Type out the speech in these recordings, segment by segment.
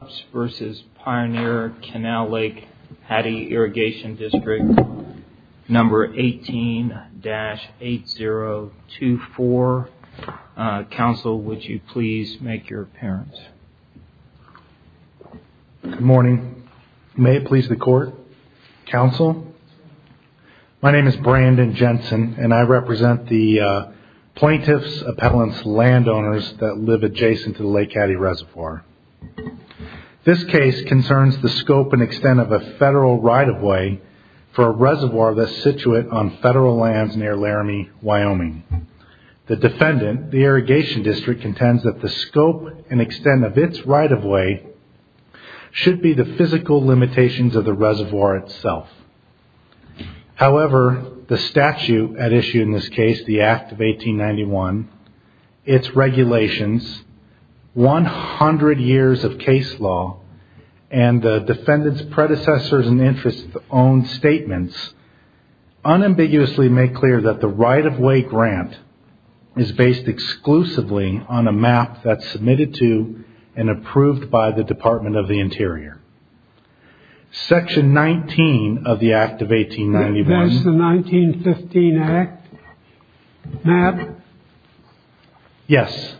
Cupps v. Pioneer Canal-Lake Hattie Irrigation District, number 18-8024. Counsel, would you please make your appearance. Good morning. May it please the court. Counsel, my name is Brandon Jensen and I represent the plaintiff's appellant's landowners that live adjacent to the Lake Hattie Reservoir. This case concerns the scope and extent of a federal right-of-way for a reservoir that is situated on federal lands near Laramie, Wyoming. The defendant, the irrigation district, contends that the scope and extent of its right-of-way should be the physical limitations of the reservoir itself. However, the statute at issue in this case, the Act of 1891, its regulations, 100 years of case law, and the defendant's predecessor's and interest-owned statements unambiguously make clear that the right-of-way grant is based exclusively on a map that's submitted to and approved by the Department of the Interior. Section 19 of the Act of 1891. That's the 1915 Act map? Yes.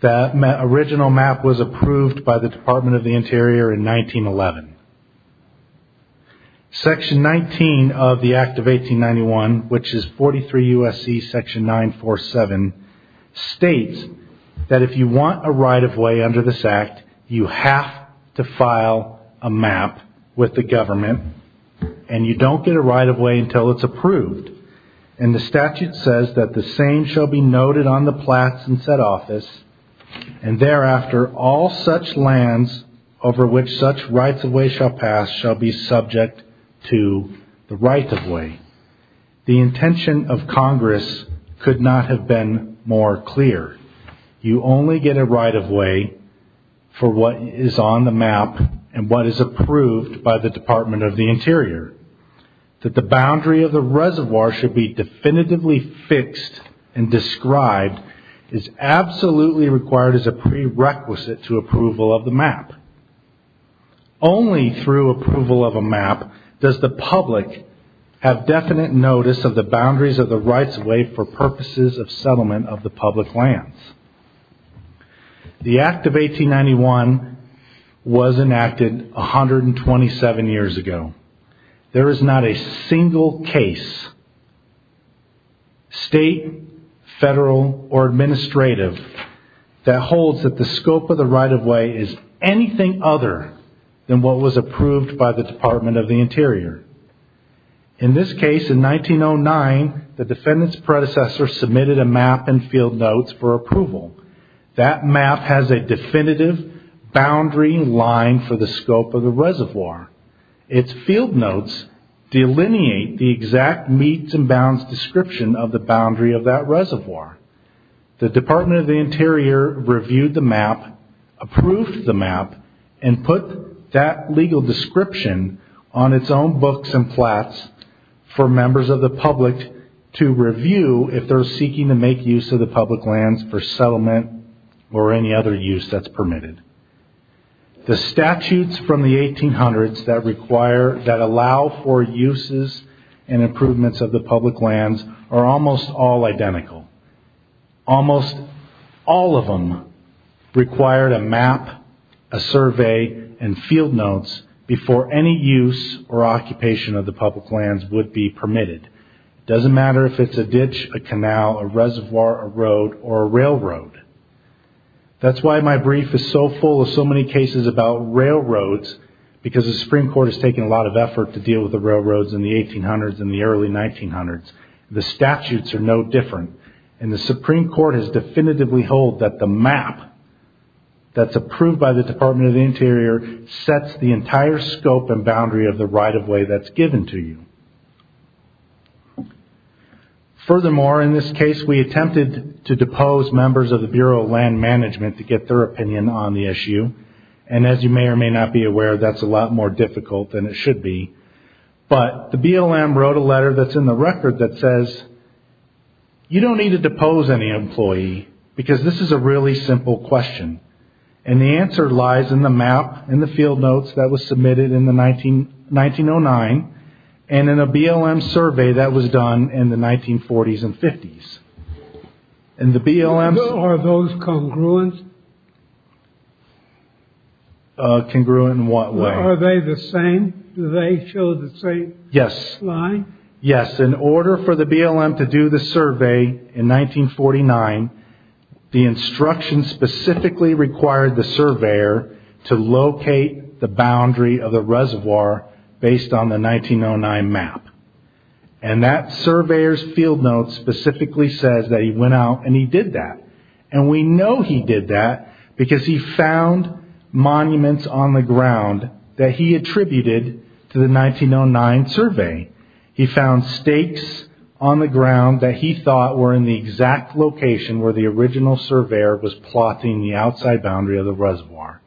The original map was approved by the Department of the Interior in 1911. Section 19 of the Act of 1891, which is 43 U.S.C. section 947, states that if you want a right-of-way under this Act, you have to file a map with the government and you don't get a right-of-way until it's approved. And the statute says that the same shall be noted on the plats in said office, and thereafter, all such lands over which such right-of-way shall pass shall be subject to the right-of-way. The intention of Congress could not have been more clear. You only get a right-of-way for what is on the map and what is approved by the Department of the Interior. That the boundary of the reservoir should be definitively fixed and described is absolutely required as a prerequisite to approval of the map. Only through approval of a map does the public have definite notice of the boundaries of the right-of-way for purposes of settlement of the public lands. The Act of 1891 was enacted 127 years ago. There is not a single case, state, federal, or administrative, that holds that the scope of the right-of-way is anything other than what was approved by the Department of the Interior. In this case, in 1909, the defendant's predecessor submitted a map and field notes for approval. That map has a definitive boundary line for the scope of the reservoir. Its field notes delineate the exact meets and bounds description of the boundary of that reservoir. The Department of the Interior reviewed the map, approved the map, and put that legal description on its own books and plats for members of the public to review if they're seeking to make use of the public lands for settlement or any other use that's permitted. The statutes from the 1800s that allow for uses and improvements of the public lands are almost all identical. Almost all of them require a map, a survey, and field notes before any use or occupation of the public lands would be permitted. It doesn't matter if it's a ditch, a canal, a reservoir, a road, or a railroad. That's why my brief is so full of so many cases about railroads, because the Supreme Court has taken a lot of effort to deal with the railroads in the 1800s and the early 1900s. The statutes are no different, and the Supreme Court has definitively held that the map that's approved by the Department of the Interior sets the entire scope and boundary of the right-of-way that's given to you. Furthermore, in this case, we attempted to depose members of the Bureau of Land Management to get their opinion on the issue. As you may or may not be aware, that's a lot more difficult than it should be, but the BLM wrote a letter that's in the record that says, You don't need to depose any employee, because this is a really simple question, and the answer lies in the map and the field notes that was submitted in 1909, and in a BLM survey that was done in the 1940s and 50s. Are those congruent? Congruent in what way? Are they the same? Do they show the same line? Yes, in order for the BLM to do the survey in 1949, the instruction specifically required the surveyor to locate the boundary of the reservoir based on the 1909 map. That surveyor's field note specifically says that he went out and he did that. We know he did that because he found monuments on the ground that he attributed to the 1909 survey. He found stakes on the ground that he thought were in the exact location where the original surveyor was plotting the outside boundary of the reservoir.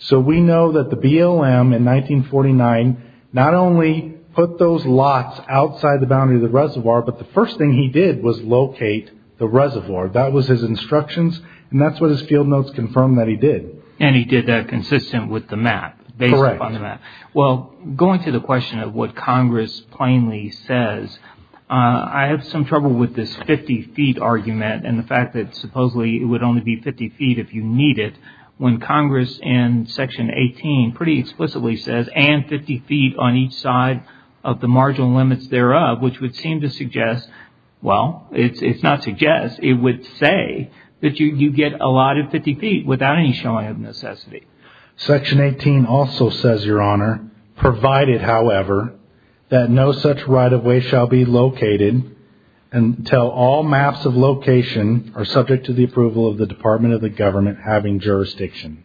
So we know that the BLM in 1949 not only put those lots outside the boundary of the reservoir, but the first thing he did was locate the reservoir. That was his instructions, and that's what his field notes confirmed that he did. And he did that consistent with the map, based upon the map. Well, going to the question of what Congress plainly says, I have some trouble with this 50 feet argument and the fact that supposedly it would only be 50 feet if you need it. When Congress in Section 18 pretty explicitly says, and 50 feet on each side of the marginal limits thereof, which would seem to suggest, well, it's not suggest. It would say that you get a lot of 50 feet without any showing of necessity. Section 18 also says, Your Honor, provided, however, that no such right-of-way shall be located until all maps of location are subject to the approval of the Department of the Government having jurisdiction.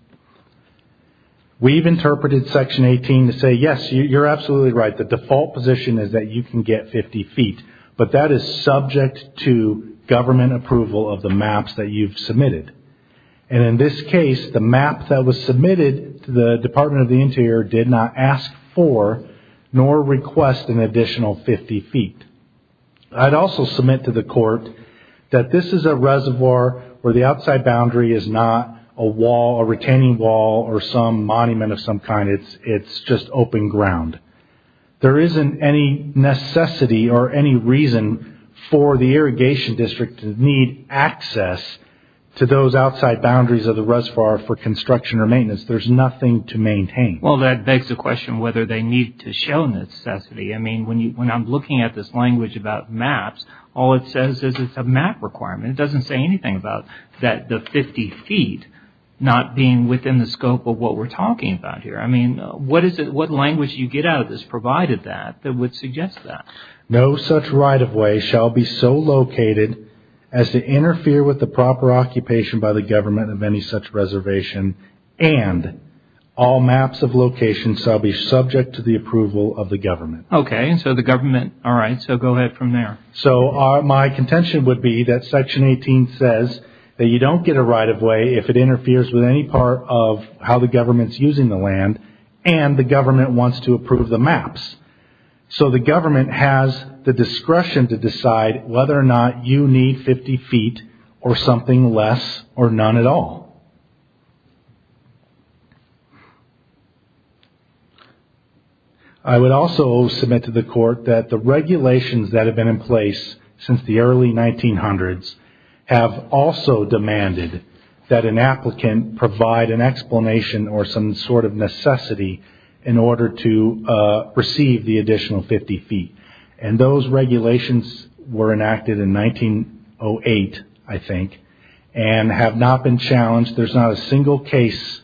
We've interpreted Section 18 to say, yes, you're absolutely right. The default position is that you can get 50 feet, but that is subject to government approval of the maps that you've submitted. And in this case, the map that was submitted to the Department of the Interior did not ask for nor request an additional 50 feet. I'd also submit to the court that this is a reservoir where the outside boundary is not a wall, a retaining wall, or some monument of some kind. It's just open ground. There isn't any necessity or any reason for the Irrigation District to need access to those outside boundaries of the reservoir for construction or maintenance. There's nothing to maintain. Well, that begs the question whether they need to show necessity. I mean, when I'm looking at this language about maps, all it says is it's a map requirement. It doesn't say anything about the 50 feet not being within the scope of what we're talking about here. I mean, what language you get out of this provided that, that would suggest that? No such right-of-way shall be so located as to interfere with the proper occupation by the government of any such reservation, and all maps of location shall be subject to the approval of the government. Okay, and so the government, all right, so go ahead from there. So my contention would be that Section 18 says that you don't get a right-of-way if it interferes with any part of how the government's using the land, and the government wants to approve the maps. So the government has the discretion to decide whether or not you need 50 feet or something less or none at all. I would also submit to the court that the regulations that have been in place since the early 1900s have also demanded that an applicant provide an explanation or some sort of necessity in order to receive the additional 50 feet, and those regulations were enacted in 1908, I think, and have not been challenged. There's not a single case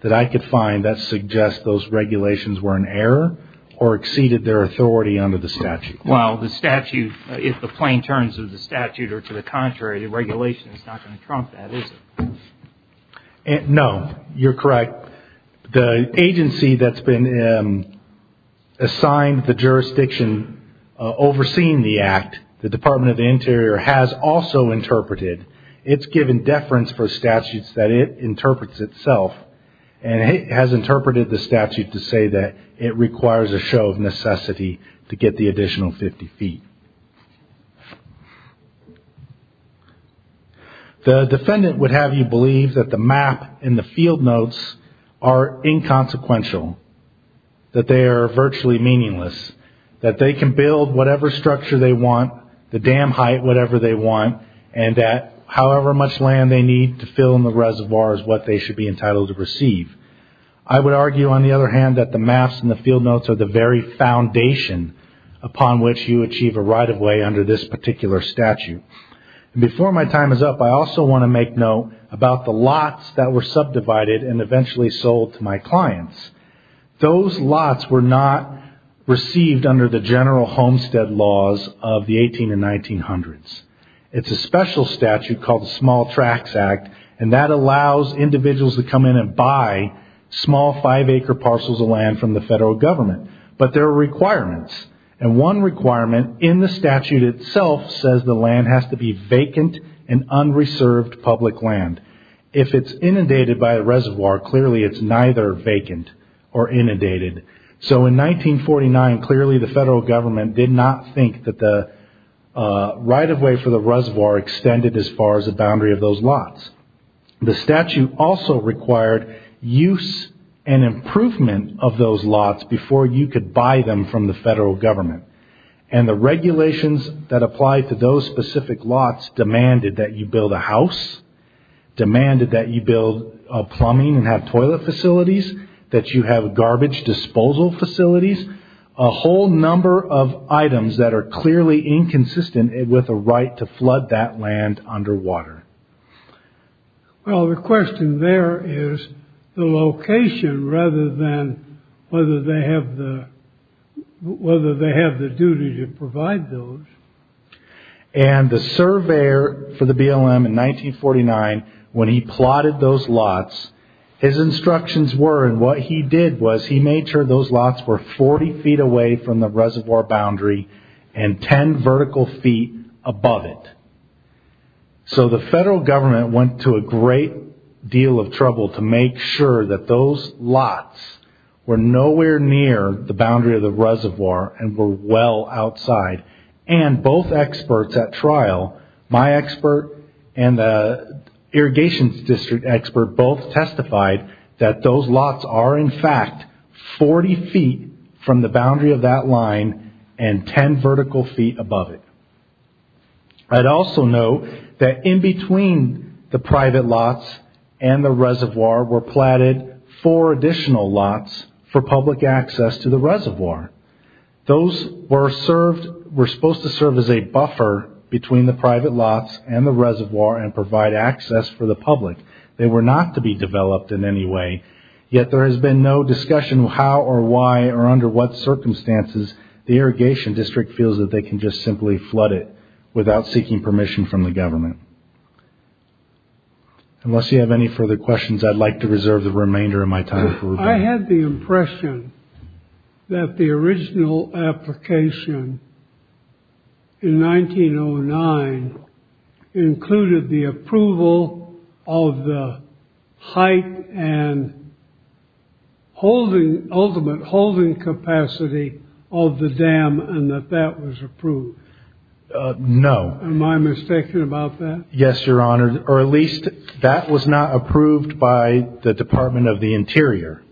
that I could find that suggests those regulations were in error or exceeded their authority under the statute. Well, the statute, if the plain terms of the statute are to the contrary, the regulation is not going to trump that, is it? No, you're correct. The agency that's been assigned the jurisdiction overseeing the act, the Department of the Interior, has also interpreted. It's given deference for statutes that it interprets itself, and it has interpreted the statute to say that it requires a show of necessity to get the additional 50 feet. The defendant would have you believe that the map and the field notes are inconsequential, that they are virtually meaningless, that they can build whatever structure they want, the dam height, whatever they want, and that however much land they need to fill in the reservoir is what they should be entitled to receive. I would argue, on the other hand, that the maps and the field notes are the very foundation upon which you achieve a right-of-way under this particular statute. Before my time is up, I also want to make note about the lots that were subdivided and eventually sold to my clients. Those lots were not received under the general homestead laws of the 1800s and 1900s. It's a special statute called the Small Tracts Act, and that allows individuals to come in and buy small five-acre parcels of land from the federal government. But there are requirements, and one requirement in the statute itself says the land has to be vacant and unreserved public land. If it's inundated by a reservoir, clearly it's neither vacant or inundated. So in 1949, clearly the federal government did not think that the right-of-way for the reservoir extended as far as the boundary of those lots. The statute also required use and improvement of those lots before you could buy them from the federal government. And the regulations that apply to those specific lots demanded that you build a house, demanded that you build plumbing and have toilet facilities, that you have garbage disposal facilities, a whole number of items that are clearly inconsistent with a right to flood that land underwater. Well, the question there is the location rather than whether they have the duty to provide those. And the surveyor for the BLM in 1949, when he plotted those lots, his instructions were, and what he did was he made sure those lots were 40 feet away from the reservoir boundary and 10 vertical feet above it. So the federal government went to a great deal of trouble to make sure that those lots were nowhere near the boundary of the reservoir and were well outside. And both experts at trial, my expert and the irrigation district expert, both testified that those lots are in fact 40 feet from the boundary of that line and 10 vertical feet above it. I'd also note that in between the private lots and the reservoir were plotted four additional lots for public access to the reservoir. Those were supposed to serve as a buffer between the private lots and the reservoir and provide access for the public. They were not to be developed in any way. Yet there has been no discussion how or why or under what circumstances the irrigation district feels that they can just simply flood it without seeking permission from the government. Unless you have any further questions, I'd like to reserve the remainder of my time. I had the impression that the original application in 1909 included the approval of the height and ultimate holding capacity of the dam and that that was approved. No. Am I mistaken about that? Yes, your honor. Or at least that was not approved by the Department of the Interior.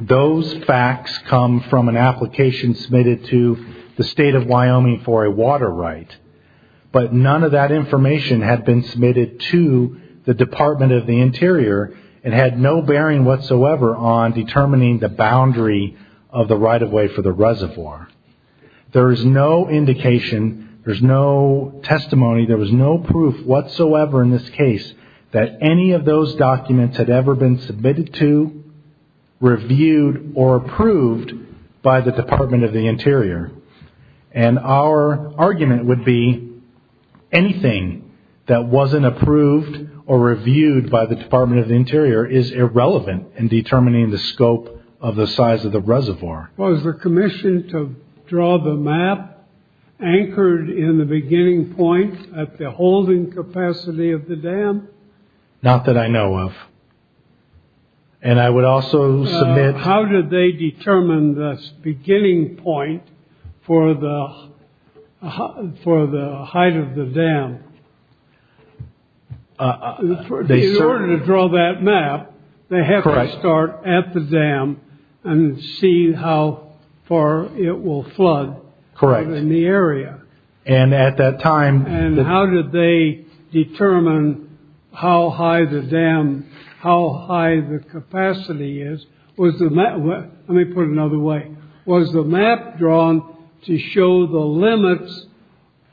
Those facts come from an application submitted to the state of Wyoming for a water right. But none of that information had been submitted to the Department of the Interior and had no bearing whatsoever on determining the boundary of the right-of-way for the reservoir. There is no indication, there's no testimony, there was no proof whatsoever in this case that any of those documents had ever been submitted to, reviewed, or approved by the Department of the Interior. And our argument would be anything that wasn't approved or reviewed by the Department of the Interior is irrelevant in determining the scope of the size of the reservoir. Was the commission to draw the map anchored in the beginning point at the holding capacity of the dam? Not that I know of. And I would also submit... How did they determine the beginning point for the height of the dam? In order to draw that map, they have to start at the dam and see how far it will flood in the area. And at that time... And how did they determine how high the dam, how high the capacity is? Let me put it another way. Was the map drawn to show the limits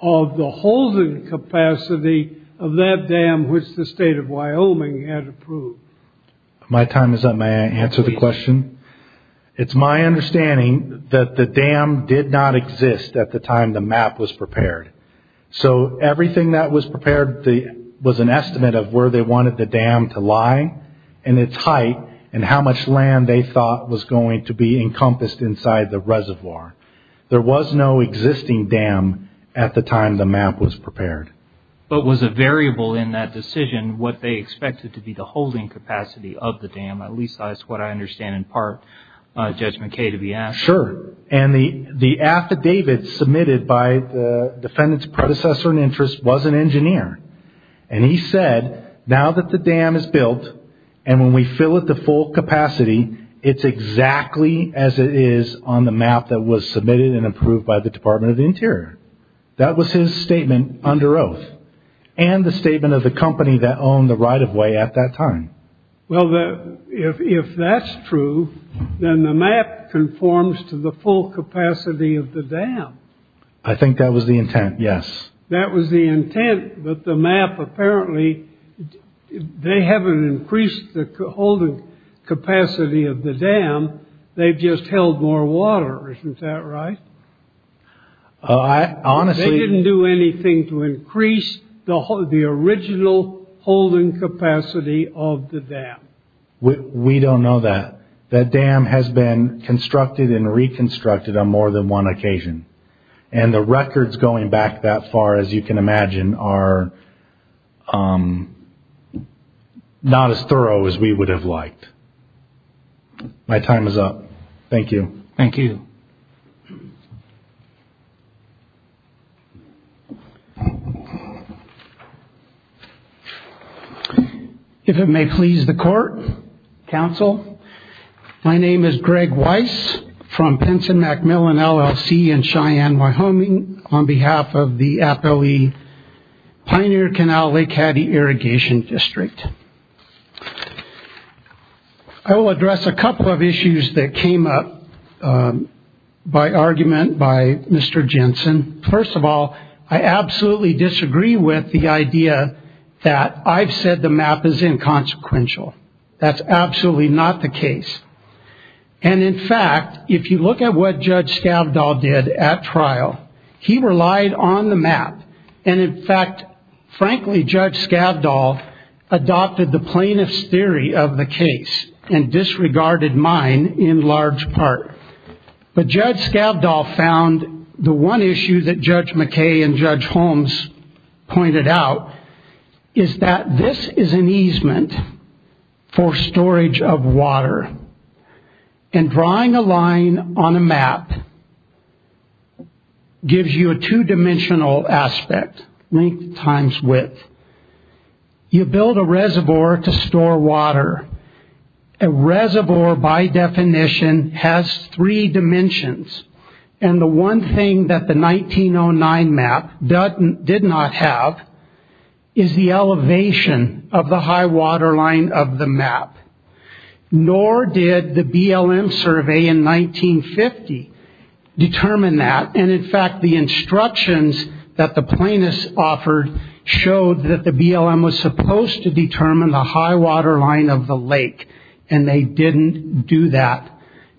of the holding capacity of that dam, which the state of Wyoming had approved? My time is up. May I answer the question? It's my understanding that the dam did not exist at the time the map was prepared. So everything that was prepared was an estimate of where they wanted the dam to lie, and its height, and how much land they thought was going to be encompassed inside the reservoir. There was no existing dam at the time the map was prepared. But was a variable in that decision what they expected to be the holding capacity of the dam? At least that's what I understand in part Judge McKay to be asking. Sure. And the affidavit submitted by the defendant's predecessor in interest was an engineer. And he said, now that the dam is built, and when we fill it to full capacity, it's exactly as it is on the map that was submitted and approved by the Department of the Interior. That was his statement under oath. And the statement of the company that owned the right-of-way at that time. Well, if that's true, then the map conforms to the full capacity of the dam. I think that was the intent, yes. That was the intent that the map apparently, they haven't increased the holding capacity of the dam, they've just held more water, isn't that right? Honestly... They didn't do anything to increase the original holding capacity of the dam. We don't know that. That dam has been constructed and reconstructed on more than one occasion. And the records going back that far, as you can imagine, are not as thorough as we would have liked. My time is up. Thank you. Thank you. If it may please the Court, Counsel, My name is Greg Weiss from Pinson Macmillan LLC in Cheyenne, Wyoming, on behalf of the FOE Pioneer Canal Lake Hattie Irrigation District. I will address a couple of issues that came up by argument by Mr. Jensen. First of all, I absolutely disagree with the idea that I've said the map is inconsequential. That's absolutely not the case. And in fact, if you look at what Judge Skavdahl did at trial, he relied on the map. And in fact, frankly, Judge Skavdahl adopted the plaintiff's theory of the case and disregarded mine in large part. But Judge Skavdahl found the one issue that Judge McKay and Judge Holmes pointed out is that this is an easement for storage of water. And drawing a line on a map gives you a two-dimensional aspect, length times width. You build a reservoir to store water. A reservoir, by definition, has three dimensions. And the one thing that the 1909 map did not have is the elevation of the high waterline of the map. Nor did the BLM survey in 1950 determine that. And in fact, the instructions that the plaintiffs offered showed that the BLM was supposed to determine the high waterline of the lake. And they didn't do that.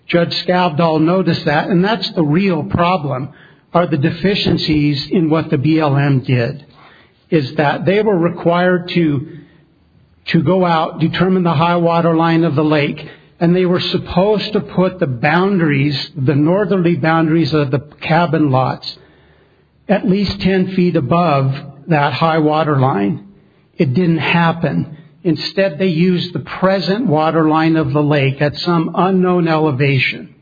Judge Skavdahl noticed that. And that's the real problem, are the deficiencies in what the BLM did, is that they were required to go out, determine the high waterline of the lake, and they were supposed to put the boundaries, the northerly boundaries of the cabin lots, at least 10 feet above that high waterline. It didn't happen. Instead, they used the present waterline of the lake at some unknown elevation.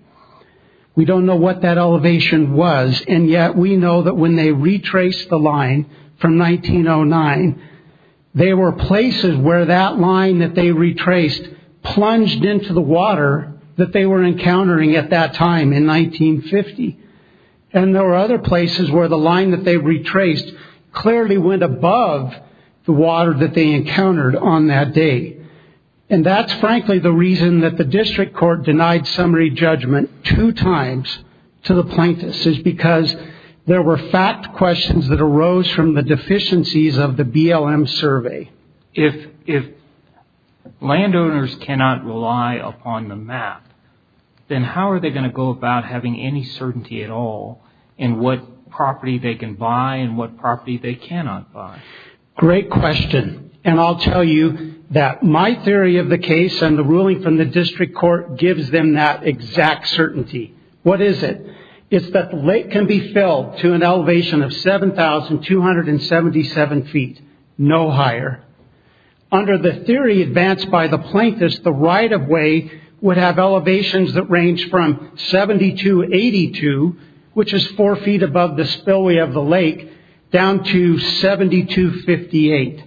We don't know what that elevation was, and yet we know that when they retraced the line from 1909, there were places where that line that they retraced plunged into the water that they were encountering at that time in 1950. And there were other places where the line that they retraced clearly went above the water that they encountered on that day. And that's, frankly, the reason that the district court denied summary judgment two times to the plaintiffs, is because there were fact questions that arose from the deficiencies of the BLM survey. If landowners cannot rely upon the map, then how are they going to go about having any certainty at all in what property they can buy and what property they cannot buy? Great question. And I'll tell you that my theory of the case and the ruling from the district court gives them that exact certainty. What is it? It's that the lake can be filled to an elevation of 7,277 feet, no higher. Under the theory advanced by the plaintiffs, the right-of-way would have elevations that range from 7,282, which is four feet above the spillway of the lake, down to 7,258.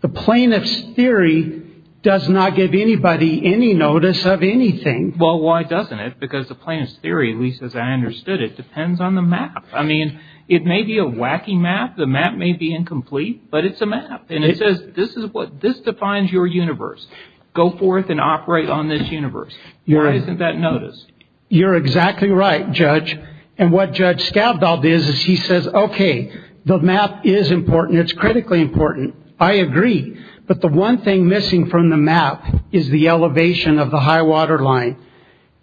The plaintiff's theory does not give anybody any notice of anything. Well, why doesn't it? Because the plaintiff's theory, at least as I understood it, depends on the map. I mean, it may be a wacky map, the map may be incomplete, but it's a map. And it says this defines your universe. Go forth and operate on this universe. Why isn't that noticed? You're exactly right, Judge. And what Judge Skavdal did is he says, okay, the map is important, it's critically important. I agree. But the one thing missing from the map is the elevation of the high-water line.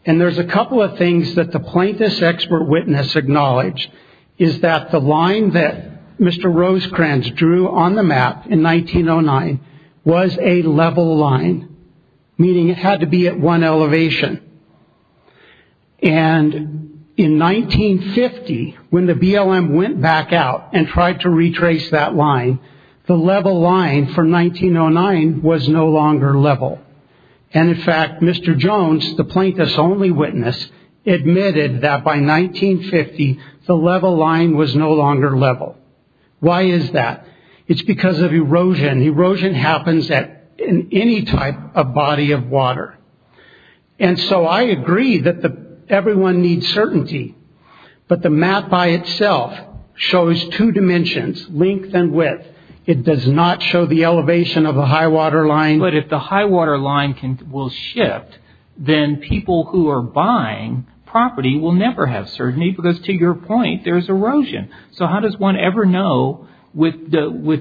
And there's a couple of things that the plaintiff's expert witness acknowledged, is that the line that Mr. Rosecrans drew on the map in 1909 was a level line, meaning it had to be at one elevation. And in 1950, when the BLM went back out and tried to retrace that line, the level line from 1909 was no longer level. And, in fact, Mr. Jones, the plaintiff's only witness, admitted that by 1950 the level line was no longer level. Why is that? It's because of erosion. Erosion happens in any type of body of water. And so I agree that everyone needs certainty, but the map by itself shows two dimensions, length and width. It does not show the elevation of the high-water line. But if the high-water line will shift, then people who are buying property will never have certainty because, to your point, there's erosion. So how does one ever know with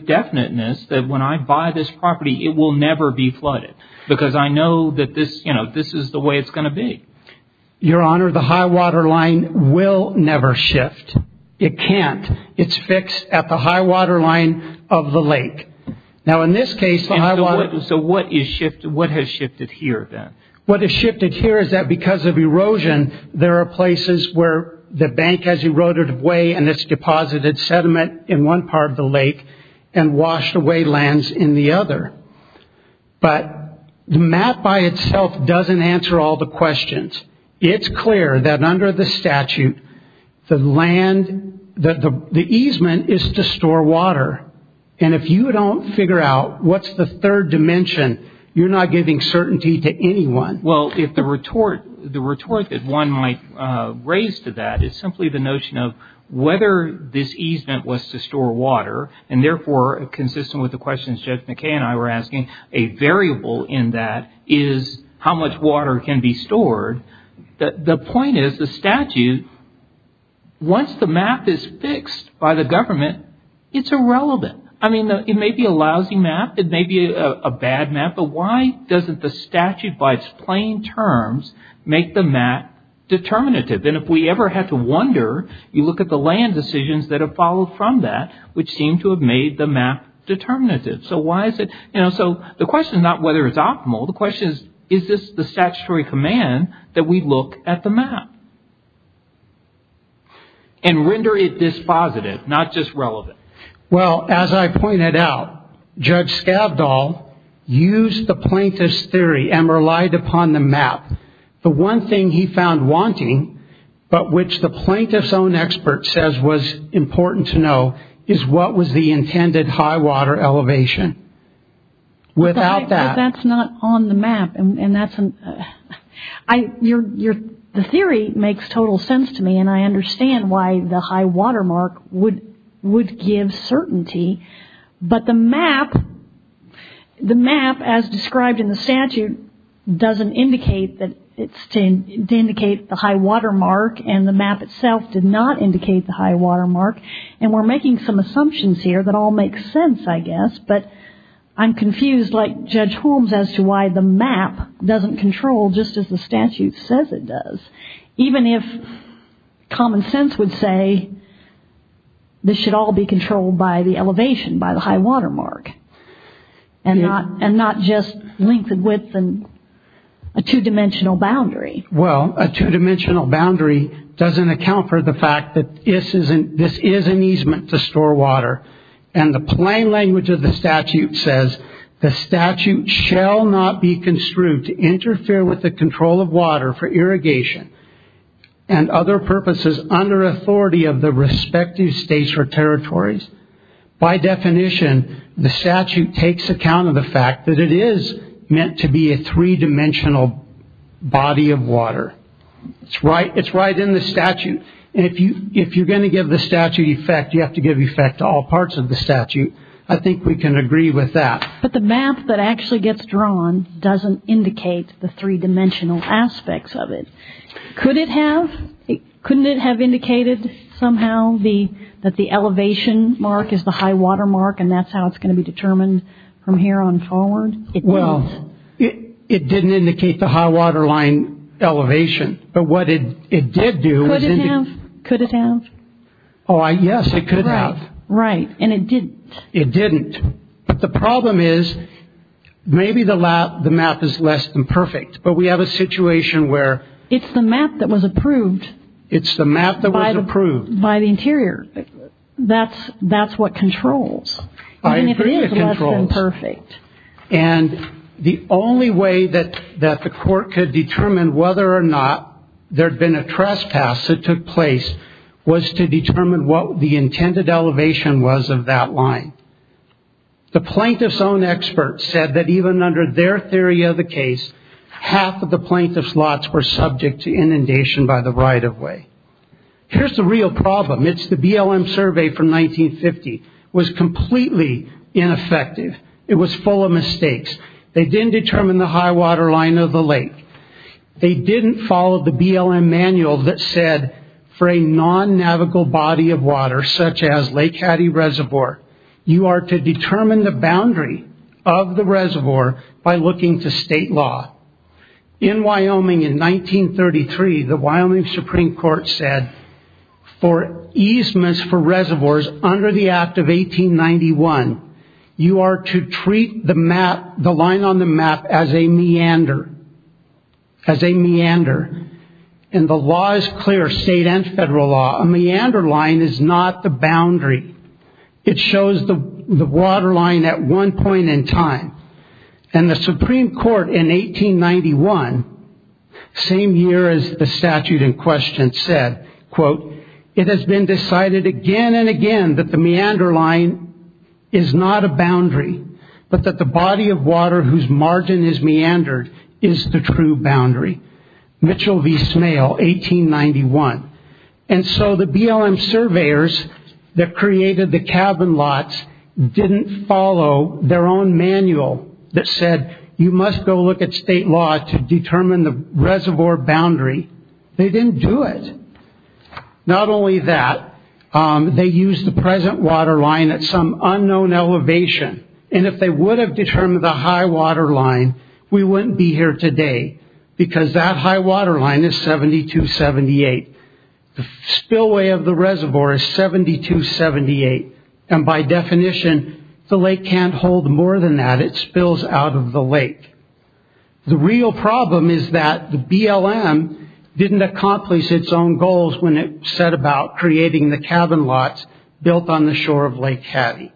definiteness that when I buy this property it will never be flooded? Because I know that this is the way it's going to be. Your Honor, the high-water line will never shift. It can't. It's fixed at the high-water line of the lake. So what has shifted here, then? What has shifted here is that because of erosion, there are places where the bank has eroded away and it's deposited sediment in one part of the lake and washed away lands in the other. But the map by itself doesn't answer all the questions. It's clear that under the statute, the easement is to store water. And if you don't figure out what's the third dimension, you're not giving certainty to anyone. Well, the retort that one might raise to that is simply the notion of whether this easement was to store water, and therefore, consistent with the questions Judge McKay and I were asking, a variable in that is how much water can be stored. The point is, the statute, once the map is fixed by the government, it's irrelevant. I mean, it may be a lousy map, it may be a bad map, but why doesn't the statute, by its plain terms, make the map determinative? And if we ever had to wonder, you look at the land decisions that have followed from that, which seem to have made the map determinative. So the question is not whether it's optimal. The question is, is this the statutory command that we look at the map and render it dispositive, not just relevant? Well, as I pointed out, Judge Skavdahl used the plaintiff's theory and relied upon the map. The one thing he found wanting, but which the plaintiff's own expert says was important to know, is what was the intended high water elevation. Without that. But that's not on the map. The theory makes total sense to me, and I understand why the high water mark would give certainty. But the map, as described in the statute, doesn't indicate that it's to indicate the high water mark, and the map itself did not indicate the high water mark. And we're making some assumptions here that all make sense, I guess, but I'm confused, like Judge Holmes, as to why the map doesn't control just as the statute says it does. Even if common sense would say this should all be controlled by the elevation, by the high water mark, and not just length and width and a two-dimensional boundary. Well, a two-dimensional boundary doesn't account for the fact that this is an easement to store water. And the plain language of the statute says, the statute shall not be construed to interfere with the control of water for irrigation and other purposes under authority of the respective states or territories. By definition, the statute takes account of the fact that it is meant to be a three-dimensional body of water. It's right in the statute, and if you're going to give the statute effect, you have to give effect to all parts of the statute. I think we can agree with that. But the map that actually gets drawn doesn't indicate the three-dimensional aspects of it. Could it have? Couldn't it have indicated somehow that the elevation mark is the high water mark and that's how it's going to be determined from here on forward? Well, it didn't indicate the high water line elevation. But what it did do is – Could it have? Could it have? Oh, yes, it could have. Right, and it didn't. It didn't. But the problem is, maybe the map is less than perfect, but we have a situation where – It's the map that was approved. It's the map that was approved. By the interior. That's what controls. I agree it controls. Even if it is less than perfect. And the only way that the court could determine whether or not there had been a trespass that took place was to determine what the intended elevation was of that line. The plaintiff's own experts said that even under their theory of the case, half of the plaintiff's lots were subject to inundation by the right-of-way. Here's the real problem. It's the BLM survey from 1950. It was completely ineffective. It was full of mistakes. They didn't determine the high water line of the lake. They didn't follow the BLM manual that said for a non-navigable body of water, such as Lake Hattie Reservoir, you are to determine the boundary of the reservoir by looking to state law. In Wyoming in 1933, the Wyoming Supreme Court said, for easements for reservoirs under the Act of 1891, you are to treat the line on the map as a meander. As a meander. And the law is clear, state and federal law. A meander line is not the boundary. It shows the water line at one point in time. And the Supreme Court in 1891, same year as the statute in question said, quote, it has been decided again and again that the meander line is not a boundary, but that the body of water whose margin is meandered is the true boundary. Mitchell v. Smale, 1891. And so the BLM surveyors that created the cabin lots didn't follow their own manual that said you must go look at state law to determine the reservoir boundary. They didn't do it. Not only that, they used the present water line at some unknown elevation. And if they would have determined the high water line, we wouldn't be here today. Because that high water line is 7278. The spillway of the reservoir is 7278. And by definition, the lake can't hold more than that. It spills out of the lake. The real problem is that the BLM didn't accomplish its own goals when it set about creating the cabin lots built on the shore of Lake Hattie.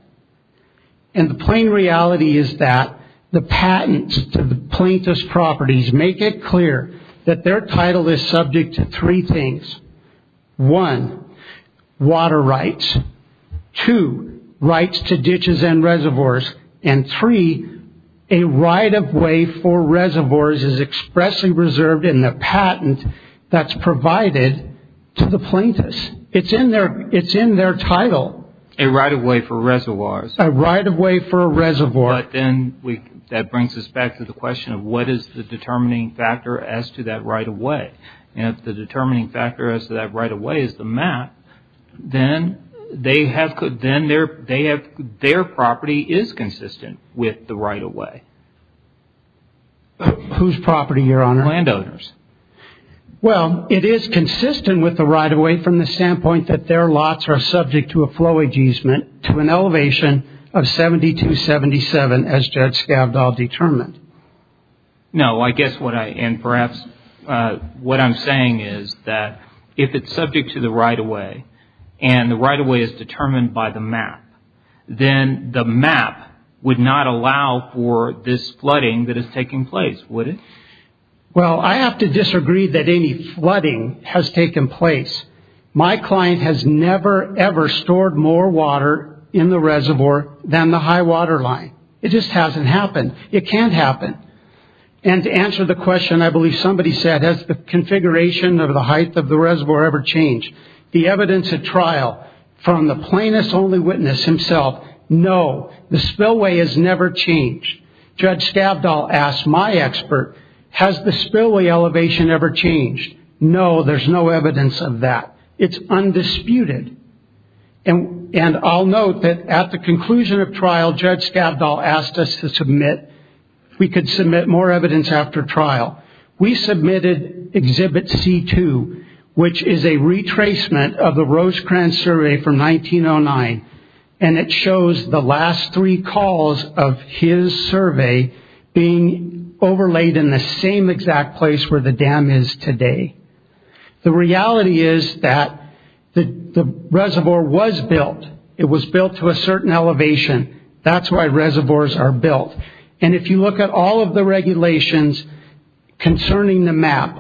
And the plain reality is that the patents to the plaintiff's properties make it clear that their title is subject to three things. One, water rights. Two, rights to ditches and reservoirs. And three, a right of way for reservoirs is expressly reserved in the patent that's provided to the plaintiffs. It's in their title. A right of way for reservoirs. A right of way for a reservoir. But then that brings us back to the question of what is the determining factor as to that right of way. And if the determining factor as to that right of way is the map, then their property is consistent with the right of way. Whose property, Your Honor? Landowners. Well, it is consistent with the right of way from the standpoint that their lots are subject to a flow ageasement to an elevation of 72-77 as Judge Scavdahl determined. No, I guess what I, and perhaps what I'm saying is that if it's subject to the right of way and the right of way is determined by the map, then the map would not allow for this flooding that is taking place, would it? Well, I have to disagree that any flooding has taken place. My client has never, ever stored more water in the reservoir than the high water line. It just hasn't happened. It can't happen. And to answer the question, I believe somebody said, has the configuration of the height of the reservoir ever changed? The evidence at trial from the plaintiff's only witness himself, no, the spillway has never changed. Judge Scavdahl asked my expert, has the spillway elevation ever changed? No, there's no evidence of that. It's undisputed. And I'll note that at the conclusion of trial, Judge Scavdahl asked us to submit, if we could submit more evidence after trial. We submitted Exhibit C2, which is a retracement of the Rosecrans survey from 1909, and it shows the last three calls of his survey being overlaid in the same exact place where the dam is today. The reality is that the reservoir was built. It was built to a certain elevation. That's why reservoirs are built. And if you look at all of the regulations concerning the map,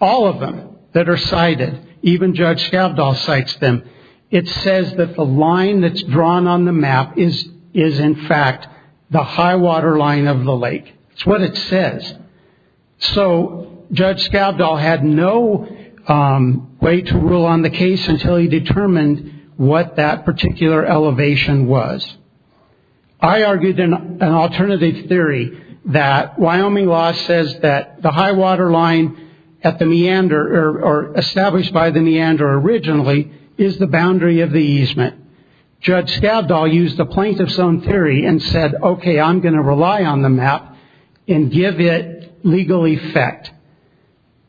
all of them that are cited, even Judge Scavdahl cites them, it says that the line that's drawn on the map is, in fact, the high water line of the lake. It's what it says. So Judge Scavdahl had no way to rule on the case until he determined what that particular elevation was. I argued in an alternative theory that Wyoming law says that the high water line at the meander, or established by the meander originally, is the boundary of the easement. Judge Scavdahl used a plaintiff's own theory and said, okay, I'm going to rely on the map and give it legal effect.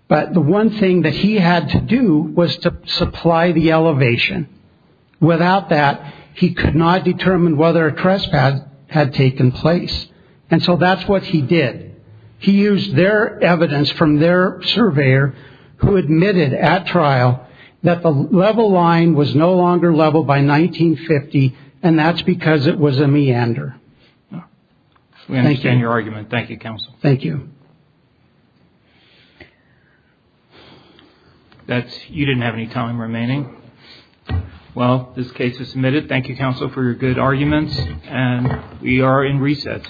But the one thing that he had to do was to supply the elevation. Without that, he could not determine whether a trespass had taken place. And so that's what he did. He used their evidence from their surveyor who admitted at trial that the level line was no longer level by 1950, and that's because it was a meander. We understand your argument. Thank you, counsel. Thank you. You didn't have any time remaining. Well, this case is submitted. Thank you, counsel, for your good arguments. And we are in reset.